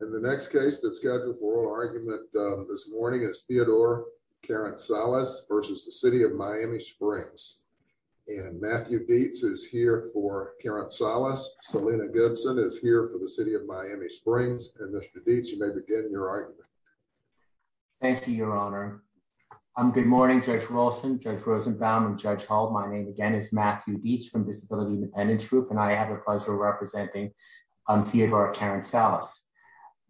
And the next case that's scheduled for oral argument this morning is Theodore Karantsalis v. City of Miami Springs. And Matthew Dietz is here for Karantsalis. Selina Gibson is here for the City of Miami Springs. And Mr. Dietz, you may begin your argument. Thank you, Your Honor. Good morning, Judge Wilson, Judge Rosenbaum, and Judge Hull. My name, again, is Matthew Dietz from Disability Independence Group. And I have the pleasure of representing Theodore Karantsalis.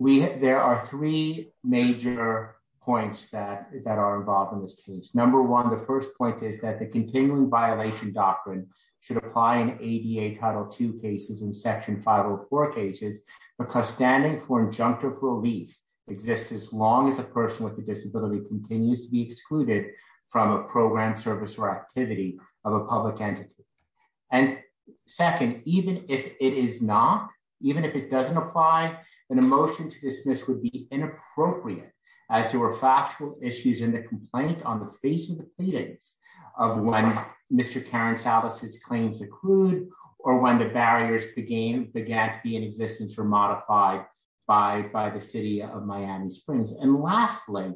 There are three major points that are involved in this case. Number one, the first point is that the continuing violation doctrine should apply in ADA Title II cases and Section 504 cases because standing for injunctive relief exists as long as a person with a disability continues to be excluded from a program, service, or activity of a public entity. And second, even if it is not, even if it doesn't apply, an emotion to dismiss would be inappropriate as there were factual issues in the complaint on the face of the pleadings of when Mr. Karantsalis' claims accrued or when the barriers began to be in existence or modified by the City of Miami Springs. And lastly,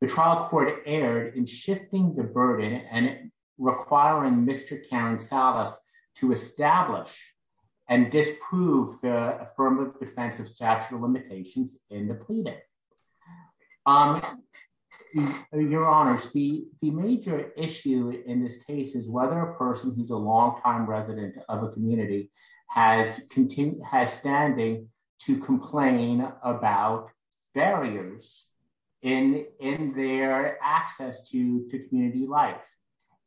the trial court erred in shifting the burden and requiring Mr. Karantsalis to establish and disprove the affirmative defense of statute of limitations in the pleading. Your Honors, the major issue in this case is whether a person who's a longtime resident of a community has standing to complain about barriers in their access to community life.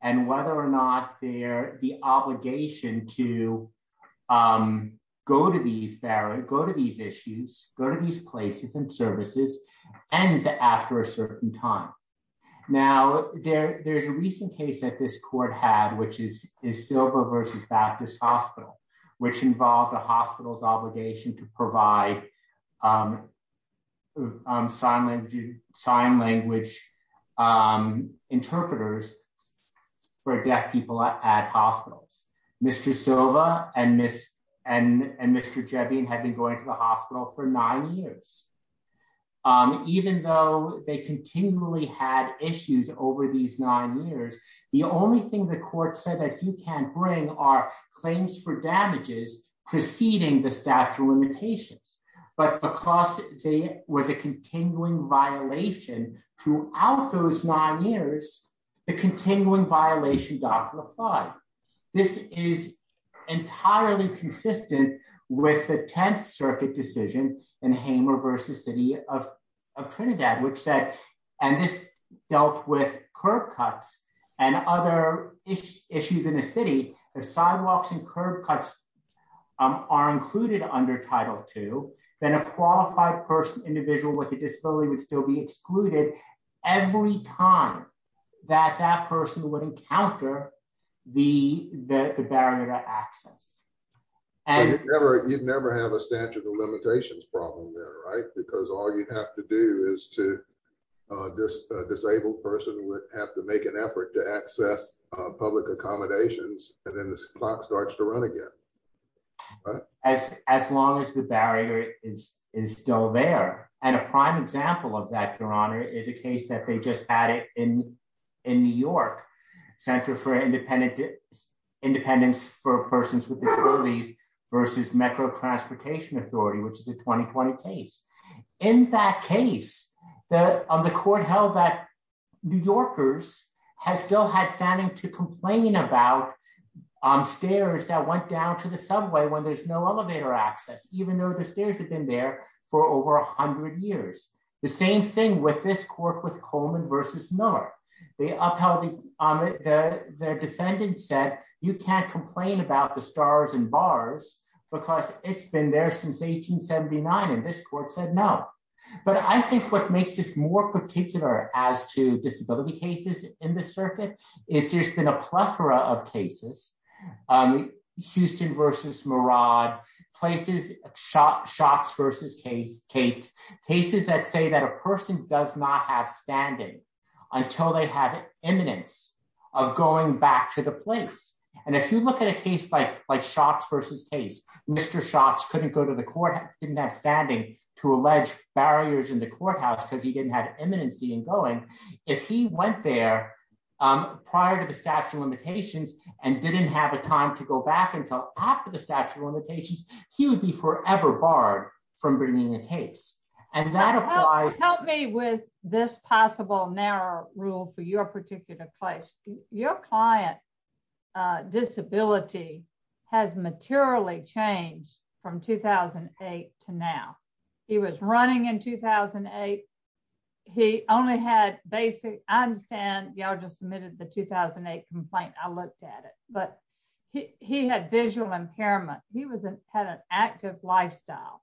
And whether or not the obligation to go to these barriers, go to these issues, go to these places and services ends after a certain time. Now, there's a recent case that this court had, which is Silva v. Baptist Hospital, which involved a hospital's obligation to provide sign language interpreters for deaf people at hospitals. Mr. Silva and Mr. Jevin had been going to the hospital for nine years. Even though they continually had issues over these nine years, the only thing the court said that you can't bring are claims for damages preceding the statute of limitations. But because there was a continuing violation throughout those nine years, the continuing violation doctrine applied. This is entirely consistent with the Tenth Circuit decision in Hamer v. City of Trinidad, which said, and this dealt with curb cuts and other issues in the city. If sidewalks and curb cuts are included under Title II, then a qualified person, individual with a disability would still be excluded every time that that person would encounter the barrier to access. You'd never have a statute of limitations problem there, right? Because all you'd have to do is a disabled person would have to make an effort to access public accommodations, and then the clock starts to run again. As long as the barrier is still there. And a prime example of that, Your Honor, is a case that they just added in New York, Center for Independence for Persons with Disabilities v. Metro Transportation Authority, which is a 2020 case. In that case, the court held that New Yorkers still had standing to complain about stairs that went down to the subway when there's no elevator access, even though the stairs have been there for over 100 years. The same thing with this court with Coleman v. Miller. Their defendant said, you can't complain about the stars and bars because it's been there since 1879, and this court said no. But I think what makes this more particular as to disability cases in the circuit is there's been a plethora of cases, Houston v. Murad, Shots v. Cates, cases that say that a person does not have standing until they have eminence of going back to the place. And if you look at a case like Shots v. Cates, Mr. Shots couldn't go to the court, didn't have standing to allege barriers in the courthouse because he didn't have eminency in going, if he went there prior to the statute of limitations and didn't have a time to go back until after the statute of limitations, he would be forever barred from bringing a case. Help me with this possible narrow rule for your particular case. Your client's disability has materially changed from 2008 to now. He was running in 2008. He only had basic, I understand, y'all just submitted the 2008 complaint, I looked at it, but he had visual impairment. He had an active lifestyle.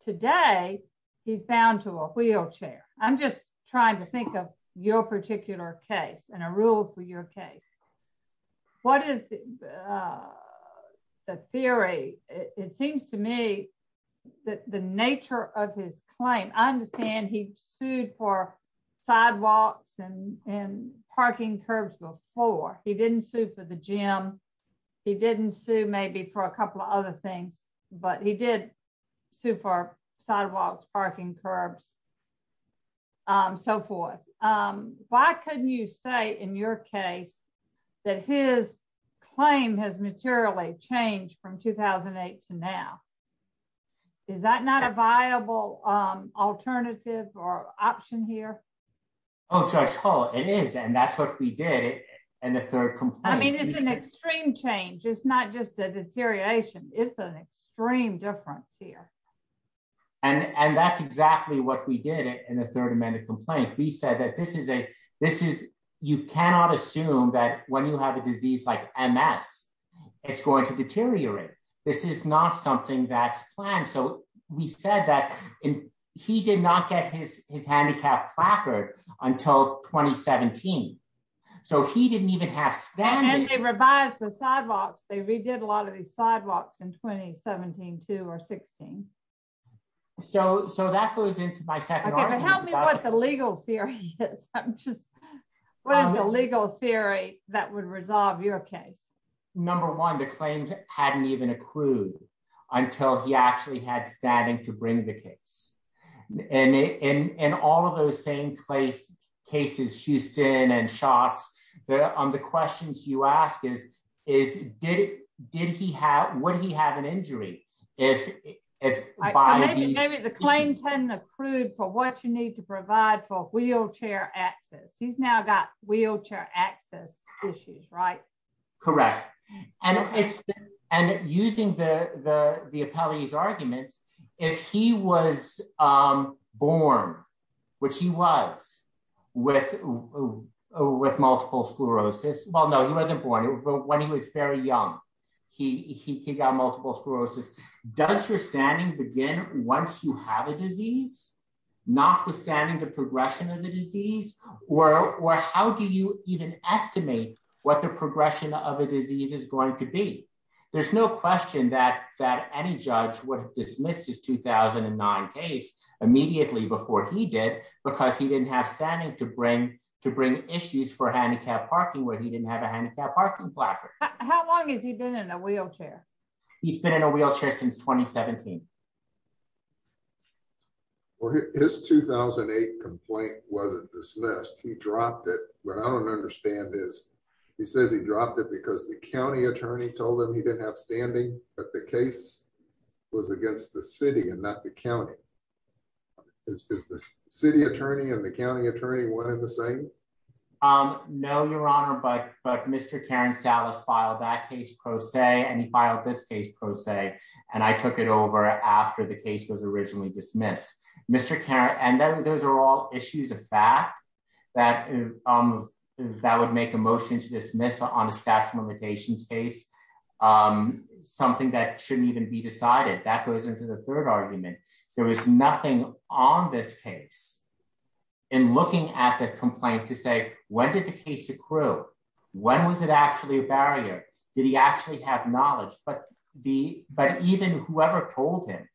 Today, he's bound to a wheelchair. I'm just trying to think of your particular case and a rule for your case. What is the theory? It seems to me that the nature of his claim, I understand he sued for sidewalks and parking curbs before. He didn't sue for the gym. He didn't sue maybe for a couple of other things, but he did sue for sidewalks, parking curbs, so forth. Why couldn't you say in your case that his claim has materially changed from 2008 to now? Is that not a viable alternative or option here? Oh, Judge Hall, it is, and that's what we did in the third complaint. I mean, it's an extreme change. It's not just a deterioration. It's an extreme difference here. And that's exactly what we did in the third amended complaint. We said that you cannot assume that when you have a disease like MS, it's going to deteriorate. This is not something that's planned. So we said that he did not get his handicap placard until 2017. So he didn't even have standing. And they revised the sidewalks. They redid a lot of these sidewalks in 2017, too, or 16. So that goes into my second argument. Okay, but tell me what the legal theory is. What is the legal theory that would resolve your case? Number one, the claim hadn't even accrued until he actually had standing to bring the case. And in all of those same cases, Houston and Shots, the questions you ask is, would he have an injury? Maybe the claims hadn't accrued for what you need to provide for wheelchair access. He's now got wheelchair access issues, right? Correct. And using the appellee's arguments, if he was born, which he was, with multiple sclerosis. Well, no, he wasn't born. When he was very young, he got multiple sclerosis. Does your standing begin once you have a disease, notwithstanding the progression of the disease? Or how do you even estimate what the progression of a disease is going to be? There's no question that any judge would dismiss his 2009 case immediately before he did, because he didn't have standing to bring issues for handicapped parking where he didn't have a handicapped parking block. How long has he been in a wheelchair? He's been in a wheelchair since 2017. Well, his 2008 complaint wasn't dismissed. He dropped it. But I don't understand this. He says he dropped it because the county attorney told him he didn't have standing. But the case was against the city and not the county. Is the city attorney and the county attorney one in the same? No, Your Honor, but Mr. Karen Salas filed that case pro se, and he filed this case pro se. And I took it over after the case was originally dismissed. And those are all issues of fact that would make a motion to dismiss on a staff limitations case something that shouldn't even be decided. That goes into the third argument. There was nothing on this case in looking at the complaint to say, when did the case accrue? When was it actually a barrier? Did he actually have knowledge? But even whoever told him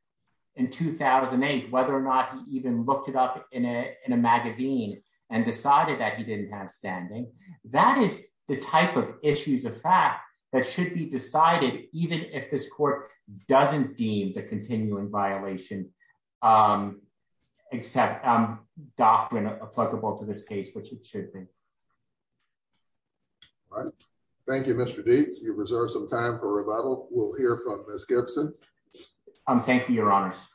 in 2008, whether or not he even looked it up in a magazine and decided that he didn't have standing. That is the type of issues of fact that should be decided, even if this court doesn't deem the continuing violation. Except doctrine applicable to this case, which it should be. Thank you, Mr. Gates, you reserve some time for rebuttal. We'll hear from Miss Gibson. Thank you, Your Honors.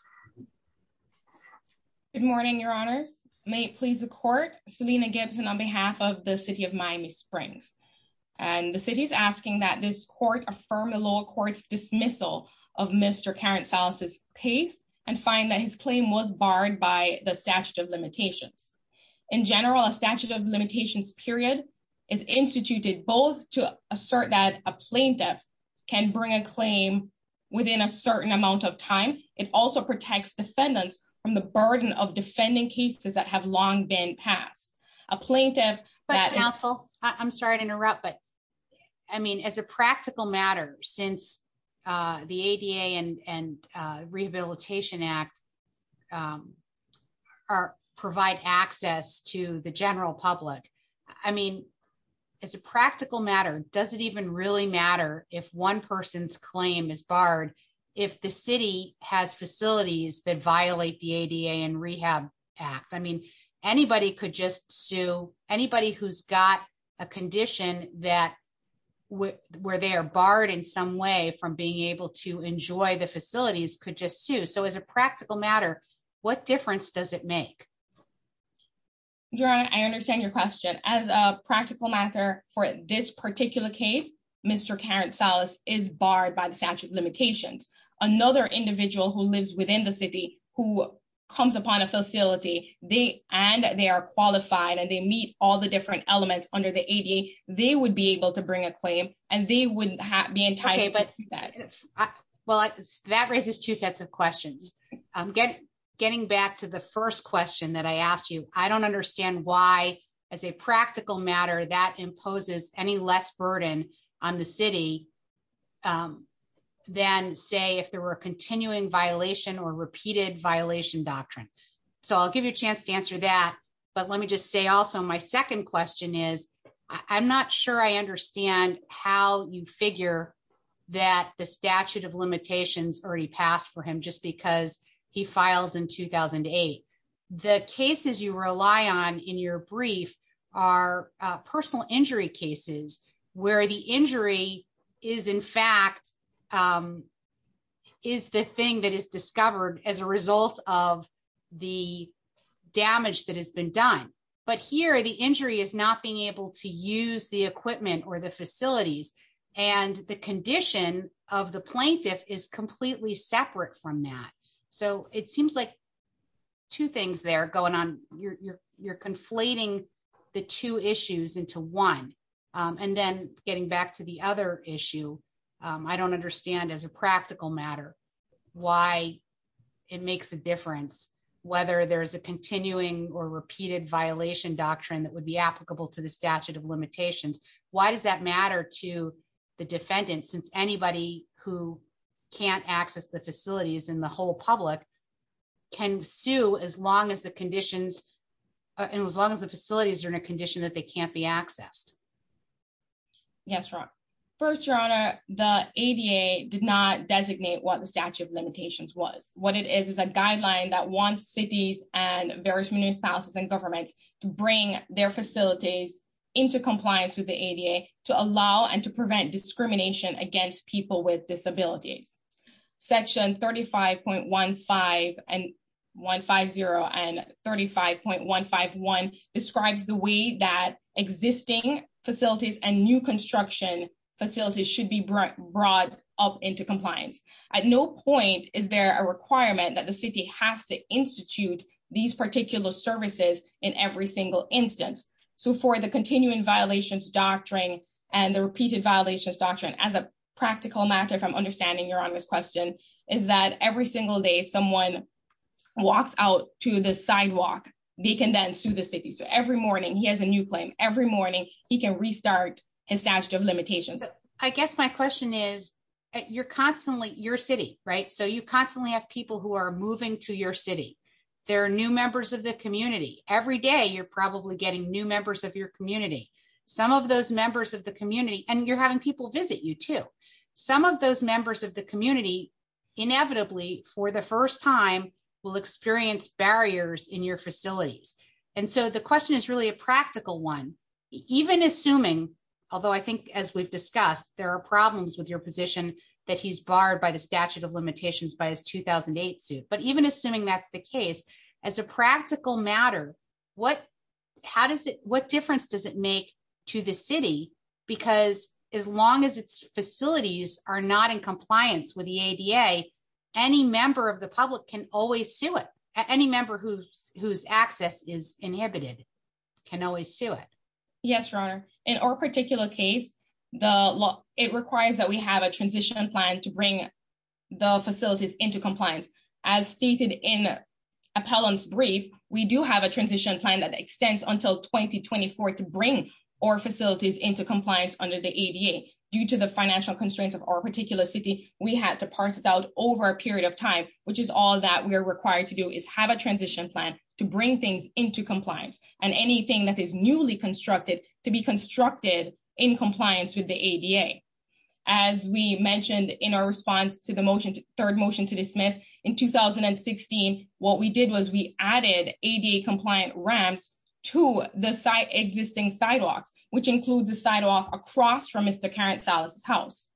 Good morning, Your Honors. May it please the court, Selina Gibson on behalf of the city of Miami Springs. And the city is asking that this court affirm the lower courts dismissal of Mr. Karen Salas's case and find that his claim was barred by the statute of limitations. In general, a statute of limitations period is instituted both to assert that a plaintiff can bring a claim within a certain amount of time. It also protects defendants from the burden of defending cases that have long been passed. But counsel, I'm sorry to interrupt, but I mean, as a practical matter, since the ADA and Rehabilitation Act provide access to the general public. I mean, as a practical matter, does it even really matter if one person's claim is barred if the city has facilities that violate the ADA and Rehab Act? I mean, anybody could just sue anybody who's got a condition that where they are barred in some way from being able to enjoy the facilities could just sue. So as a practical matter, what difference does it make? Your Honor, I understand your question. As a practical matter for this particular case, Mr. Karen Salas is barred by the statute of limitations. Another individual who lives within the city who comes upon a facility and they are qualified and they meet all the different elements under the ADA, they would be able to bring a claim and they wouldn't be entitled to that. Well, that raises two sets of questions. I'm getting back to the first question that I asked you. I don't understand why, as a practical matter, that imposes any less burden on the city than, say, if there were a continuing violation or repeated violation doctrine. So I'll give you a chance to answer that. But let me just say also, my second question is, I'm not sure I understand how you figure that the statute of limitations already passed for him just because he filed in 2008. The cases you rely on in your brief are personal injury cases where the injury is, in fact, is the thing that is discovered as a result of the damage that has been done. But here, the injury is not being able to use the equipment or the facilities. And the condition of the plaintiff is completely separate from that. So it seems like two things there going on. You're conflating the two issues into one. And then getting back to the other issue, I don't understand, as a practical matter, why it makes a difference whether there is a continuing or repeated violation doctrine that would be applicable to the statute of limitations. Why does that matter to the defendant since anybody who can't access the facilities and the whole public can sue as long as the facilities are in a condition that they can't be accessed? Yes, Ron. First, Your Honor, the ADA did not designate what the statute of limitations was. What it is is a guideline that wants cities and various municipalities and governments to bring their facilities into compliance with the ADA to allow and to prevent discrimination against people with disabilities. Section 35.150 and 35.151 describes the way that existing facilities and new construction facilities should be brought up into compliance. At no point is there a requirement that the city has to institute these particular services in every single instance. So for the continuing violations doctrine and the repeated violations doctrine, as a practical matter, if I'm understanding Your Honor's question, is that every single day someone walks out to the sidewalk, they can then sue the city. So every morning, he has a new claim. Every morning, he can restart his statute of limitations. I guess my question is, you're constantly your city, right? So you constantly have people who are moving to your city. There are new members of the community. Every day, you're probably getting new members of your community. Some of those members of the community, and you're having people visit you too. Some of those members of the community, inevitably, for the first time, will experience barriers in your facilities. And so the question is really a practical one. Even assuming, although I think as we've discussed, there are problems with your position that he's barred by the statute of limitations by his 2008 suit, but even assuming that's the case, as a practical matter, what difference does it make to the city? Because as long as its facilities are not in compliance with the ADA, any member of the public can always sue it. Any member whose access is inhibited can always sue it. Yes, Your Honor. In our particular case, it requires that we have a transition plan to bring the facilities into compliance. As stated in Appellant's brief, we do have a transition plan that extends until 2024 to bring our facilities into compliance under the ADA. Due to the financial constraints of our particular city, we had to parse it out over a period of time, which is all that we are required to do is have a transition plan to bring things into compliance and anything that is newly constructed to be constructed in compliance with the ADA. As we mentioned in our response to the third motion to dismiss in 2016, what we did was we added ADA-compliant ramps to the existing sidewalks, which includes the sidewalk across from Mr. Karen Salas' house.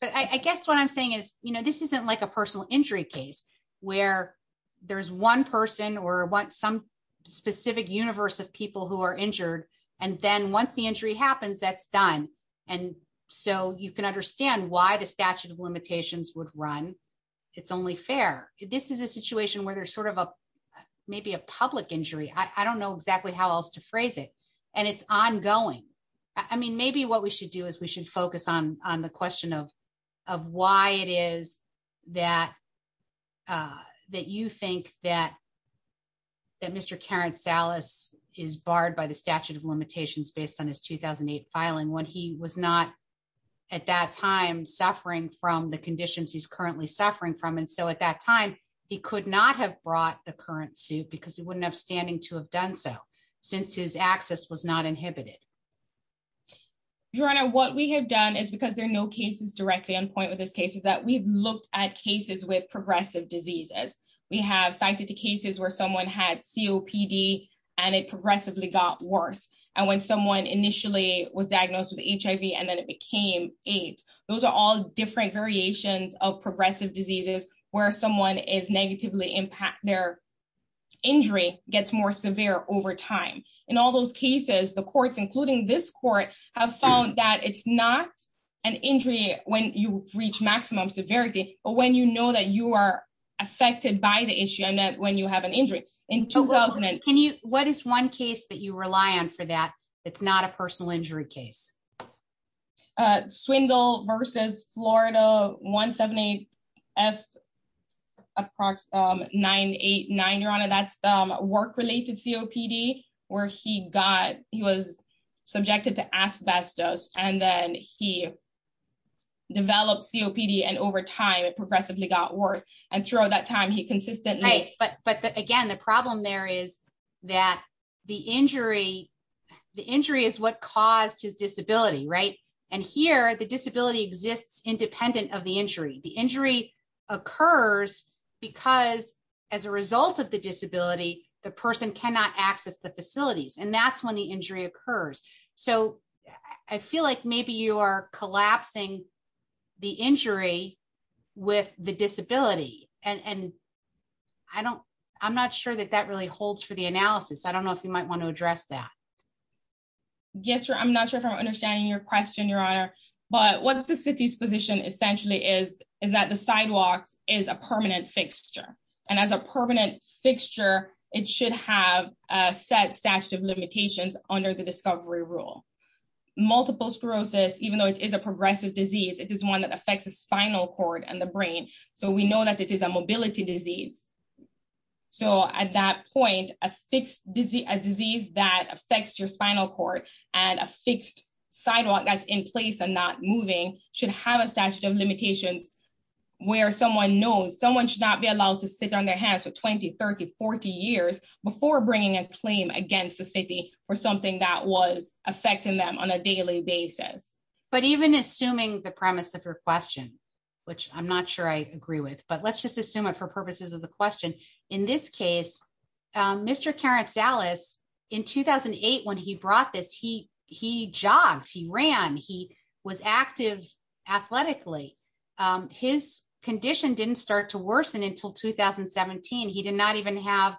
But I guess what I'm saying is, you know, this isn't like a personal injury case where there's one person or some specific universe of people who are injured, and then once the injury happens, that's done. And so you can understand why the statute of limitations would run. It's only fair. This is a situation where there's sort of maybe a public injury. I don't know exactly how else to phrase it. And it's ongoing. I mean, maybe what we should do is we should focus on the question of why it is that you think that Mr. Karen Salas is barred by the statute of limitations based on his 2008 filing when he was not at that time suffering from the conditions he's currently suffering from. And so at that time, he could not have brought the current suit because he wouldn't have standing to have done so since his access was not inhibited. Your Honor, what we have done is because there are no cases directly on point with this case is that we've looked at cases with progressive diseases. We have cited two cases where someone had COPD, and it progressively got worse. And when someone initially was diagnosed with HIV and then it became AIDS. Those are all different variations of progressive diseases, where someone is negatively impact their injury gets more severe over time. In all those cases, the courts, including this court, have found that it's not an injury, when you reach maximum severity, but when you know that you are affected by the issue and that when you have an injury in 2000 and can you, what is one case that you rely on for that. It's not a personal injury case. Swindle versus Florida 178F 989 Your Honor that's work related COPD, where he got, he was subjected to asbestos, and then he developed COPD and over time it progressively got worse, and throughout that time he consistently. But, but again the problem there is that the injury. The injury is what caused his disability right and here the disability exists independent of the injury the injury occurs, because as a result of the disability, the person cannot access the facilities and that's when the injury occurs. So, I feel like maybe you are collapsing. The injury with the disability, and I don't, I'm not sure that that really holds for the analysis I don't know if you might want to address that. Yes, sir. I'm not sure if I'm understanding your question, Your Honor, but what the city's position essentially is, is that the sidewalks is a permanent fixture, and as a permanent fixture, it should have set statute of limitations under the discovery rule, multiple sclerosis, even though it is a progressive disease it is one that affects the spinal cord and the brain. So we know that it is a mobility disease. So at that point, a fixed disease disease that affects your spinal cord, and a fixed sidewalk that's in place and not moving should have a statute of limitations, where someone knows someone should not be allowed to sit on their hands for 20 3040 years before bringing a claim against the city for something that was affecting them on a daily basis, but even assuming the premise of your question, which I'm not sure I agree with, but let's just assume it for purposes of the question. In this case, Mr Karen Salas in 2008 when he brought this he he jogs he ran he was active, athletically, his condition didn't start to worsen until 2017 he did not even have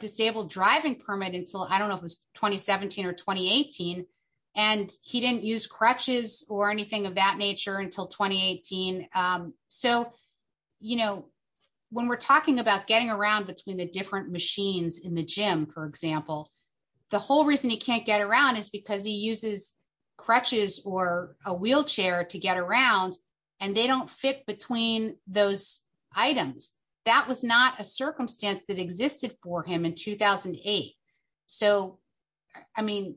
disabled driving permit until I don't know if it's 2017 or 2018, and he didn't use crutches, or anything of that nature until 2018. So, you know, when we're talking about getting around between the different machines in the gym, for example, the whole reason he can't get around is because he uses crutches or a wheelchair to get around, and they don't fit between those items. That was not a circumstance that existed for him in 2008. So, I mean,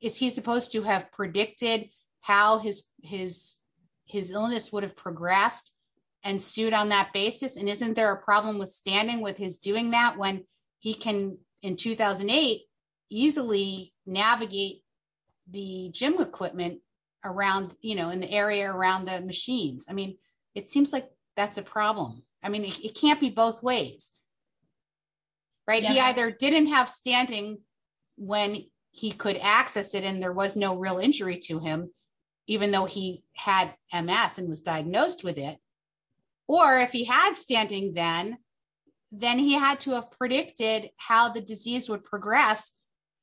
is he supposed to have predicted how his, his, his illness would have progressed and sued on that basis and isn't there a problem with standing with his doing that when he can in 2008 easily navigate the gym equipment around, you know, in the area around the machines. I mean, it seems like that's a problem. I mean, it can't be both ways. Right. He either didn't have standing. When he could access it and there was no real injury to him, even though he had MS and was diagnosed with it. Or if he had standing then, then he had to have predicted how the disease would progress.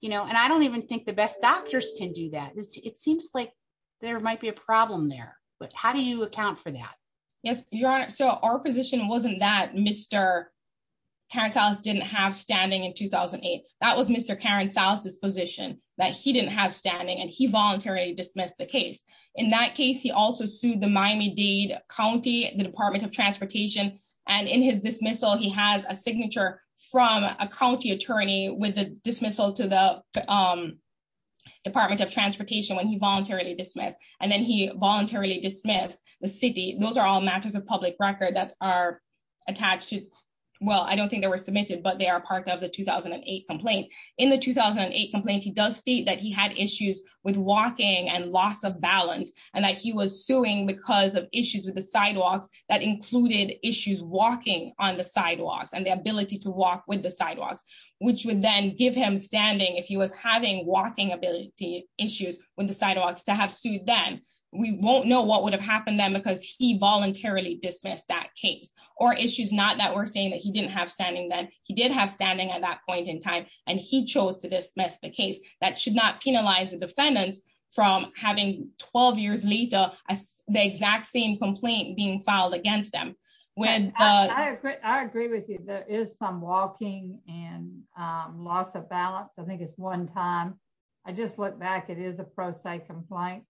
You know, and I don't even think the best doctors can do that. It seems like there might be a problem there, but how do you account for that. Yes, your honor. So our position wasn't that Mr. Cancel didn't have standing in 2008. That was Mr. Karen's house's position that he didn't have standing and he voluntarily dismissed the case. In that case, he also sued the Miami Dade County, the Department of Transportation, and in his dismissal he has a record that are attached to. Well, I don't think they were submitted but they are part of the 2008 complaint. In the 2008 complaint he does state that he had issues with walking and loss of balance, and that he was suing because of issues with the sidewalks that included issues walking on the sidewalks and the ability to walk with the sidewalks, which would then give him standing if he was having walking ability issues with the sidewalks to have sued them. We won't know what would have happened then because he voluntarily dismissed that case or issues not that we're saying that he didn't have standing then he did have standing at that point in time, and he chose to dismiss the case that should not penalize defendants from having 12 years later, the exact same complaint being filed against them when I agree with you there is some walking and loss of balance I think it's one time. I just look back it is a pro se complaint.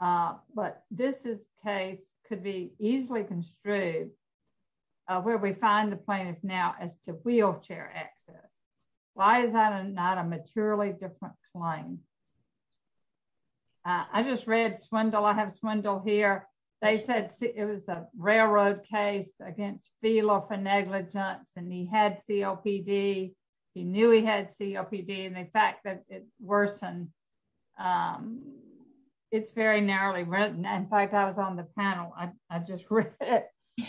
But this is case could be easily construe where we find the plaintiff now as to wheelchair access. Why is that a not a materially different claim. I just read swindle I have swindle here. They said it was a railroad case against feel of a negligence and he had COPD. He knew he had COPD and the fact that it worsen. It's very narrowly written and I was on the panel, I just read it.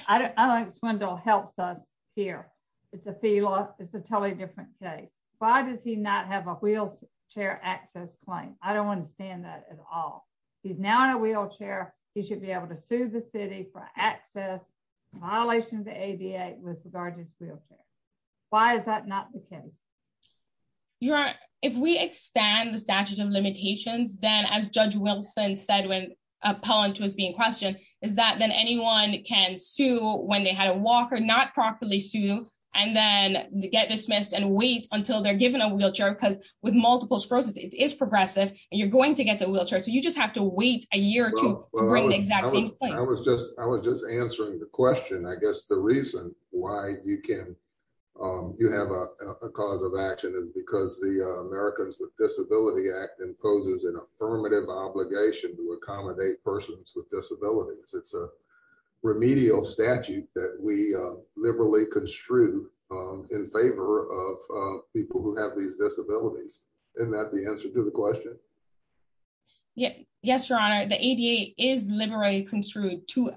I don't think swindle helps us here. It's a fee law, it's a totally different case, why does he not have a wheelchair access claim, I don't understand that at all. He's now in a wheelchair, he should be able to sue the city for access violation of the ADA with regard to his wheelchair. Why is that not the case. Your if we expand the statute of limitations, then as Judge Wilson said when appellant was being questioned, is that then anyone can sue when they had a walk or not properly sue, and then get dismissed and wait until they're given a wheelchair because with multiple sclerosis, it is progressive, and you're going to get the wheelchair so you just have to wait a year to bring the exact same thing. I was just, I was just answering the question I guess the reason why you can you have a cause of action is because the Americans with Disability Act imposes an affirmative obligation to accommodate persons with disabilities. It's a remedial statute that we liberally construe in favor of people who have these disabilities, and that the answer to the question. Yes, Your Honor, the ADA is liberally construed to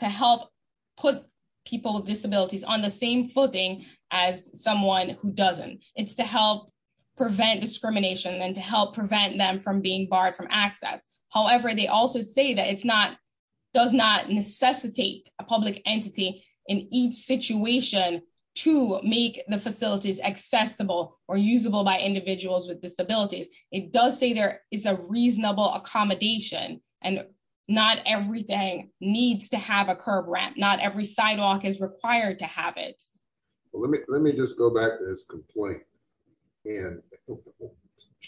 help put people with disabilities on the same footing as someone who doesn't, it's to help prevent discrimination and to help prevent them from being barred from access. However, they also say that it's not does not necessitate a public entity in each situation to make the facilities accessible or usable by individuals with disabilities, it does say there is a reasonable accommodation, and not everything needs to have a curb ramp not every sidewalk is required to have it. Let me, let me just go back to this complaint. And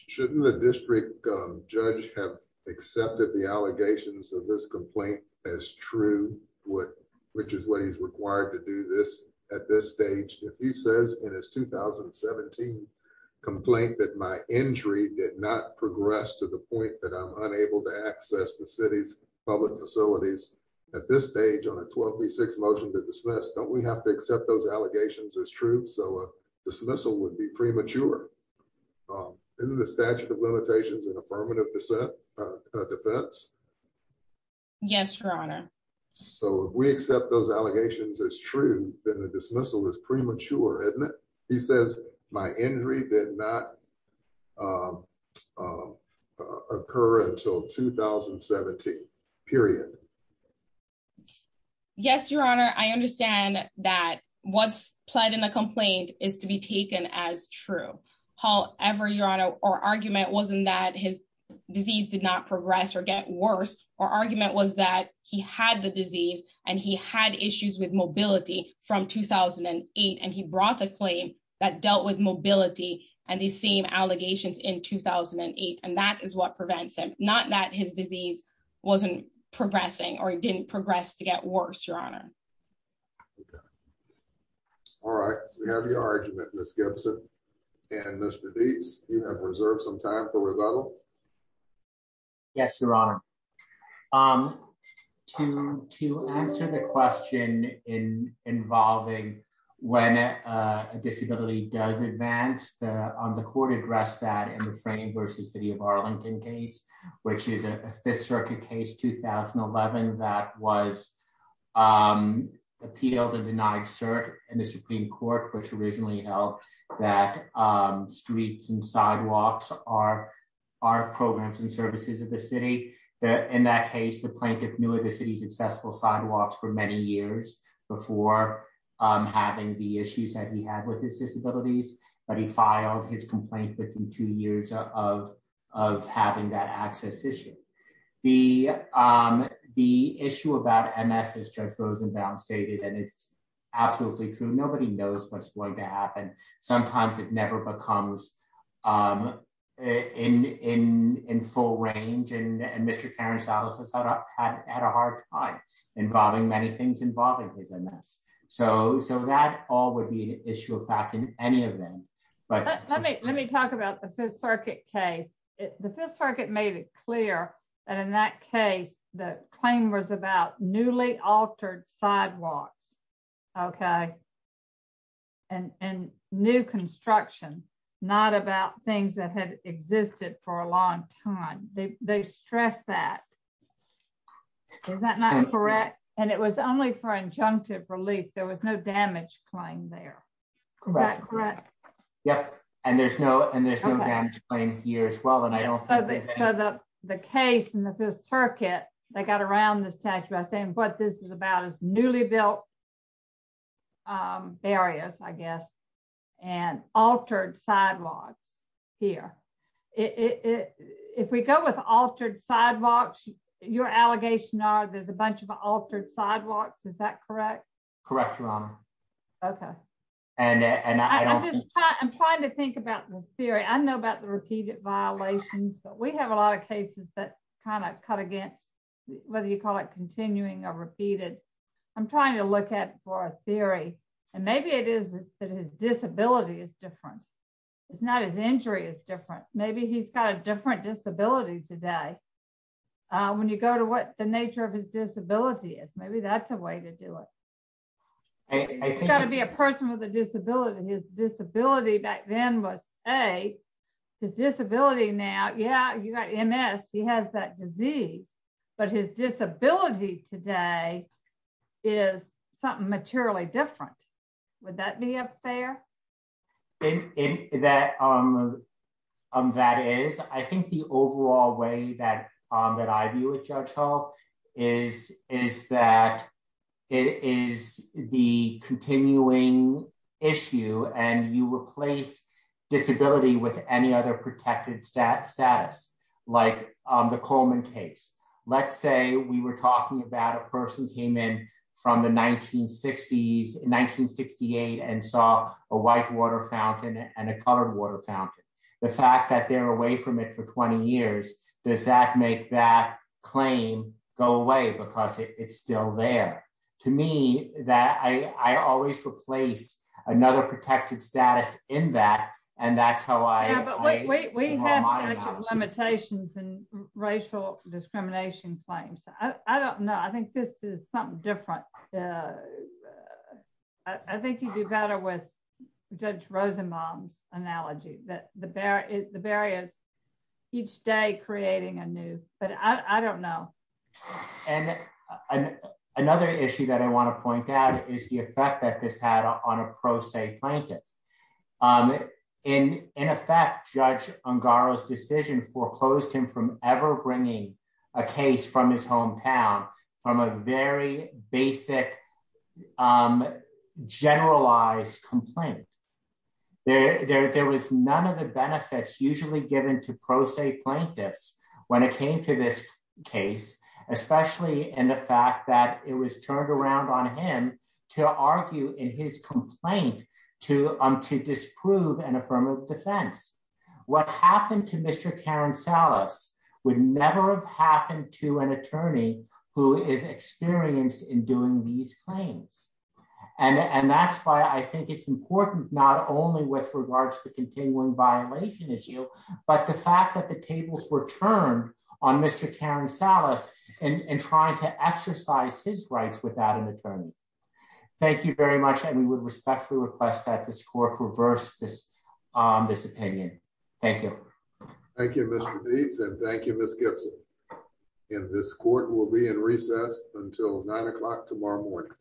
shouldn't the district judge have accepted the allegations of this complaint as true, what, which is what he's required to do this at this stage, if he says in his 2017 complaint that my injury did not progress to the point that I'm unable to access the city's at this stage on a 12 v six motion to dismiss don't we have to accept those allegations as true so dismissal would be premature in the statute of limitations and affirmative defense. Yes, Your Honor. So we accept those allegations as true, then the dismissal is premature, isn't it. He says, my injury did not occur until 2017 period. Yes, Your Honor, I understand that what's played in a complaint is to be taken as true. However, Your Honor, or argument wasn't that his disease did not progress or get worse, or argument was that he had the disease, and he had issues with mobility from 2008 and he brought the claim that dealt with mobility, and the same allegations in 2008 and that is what prevents them, not that his disease wasn't progressing or didn't progress to get worse, Your Honor. All right, we have your argument, Miss Gibson, and this release, you have reserved some time for rebuttal. Yes, Your Honor. Um, to, to answer the question in involving when a disability does advance the on the court address that in the frame versus city of Arlington case, which is a Fifth Circuit case 2011 that was appealed and denied cert in the Supreme Court which originally held that streets and sidewalks are our programs and services of the city that in that case the plaintiff knew of the city's accessible sidewalks for many years before having the issues that he had with his disabilities, but he filed his complaint within two years of, of having that access issue. The, the issue about MS is just frozen down stated and it's absolutely true nobody knows what's going to happen. Sometimes it never becomes in, in, in full range and Mr. had a hard time involving many things involving his MS. So, so that all would be issue of fact in any of them. But let me, let me talk about the Fifth Circuit case, the Fifth Circuit made it clear that in that case, the claim was about newly altered sidewalks. Okay. And new construction, not about things that had existed for a long time, they stress that. Is that not correct, and it was only for injunctive relief there was no damage claim there. Correct. Yep. And there's no and there's no damage claim here as well and I don't know that the case in the Fifth Circuit, they got around this text by saying what this is about is newly built areas, I guess, and altered sidewalks here. If we go with altered sidewalks, your allegation are there's a bunch of altered sidewalks Is that correct, correct wrong. Okay. And I'm trying to think about the theory I know about the repeated violations, but we have a lot of cases that kind of cut against, whether you call it continuing or repeated. I'm trying to look at for theory, and maybe it is that his disability is different. It's not as injury is different, maybe he's got a different disability today. When you go to what the nature of his disability is maybe that's a way to do it. Got to be a person with a disability and his disability back then was a disability now yeah you got Ms, he has that disease, but his disability today is something materially different. Would that be a fair. In that, um, um, that is, I think the overall way that that I view it, Joe, is, is that it is the continuing issue and you replace disability with any other protected status status, like the Coleman case. Let's say we were talking about a person came in from the 1960s 1968 and saw a white water fountain and a color water fountain. The fact that they're away from it for 20 years. Does that make that claim, go away because it's still there to me that I always replace another protected status in that. And that's how I limitations and racial discrimination claims, I don't know I think this is something different. I think you do better with judge Rosenbaum's analogy that the bear is the barriers. Each day creating a new, but I don't know. And another issue that I want to point out is the effect that this had on a pro se blanket. In, in effect, judge on Garza decision foreclosed him from ever bringing a case from his home town from a very basic generalized complaint. There, there was none of the benefits usually given to pro se plaintiffs. When it came to this case, especially in the fact that it was turned around on him to argue in his complaint to him to disprove and affirmative defense. What happened to Mr Karen Salas would never have happened to an attorney who is experienced in doing these claims. And that's why I think it's important, not only with regards to continuing violation issue, but the fact that the tables were turned on Mr Karen Salas, and trying to exercise his rights without an attorney. Thank you very much and we would respectfully request that this court reverse this, this opinion. Thank you. Thank you. Thank you, Miss Gibson. In this court will be in recess until nine o'clock tomorrow morning.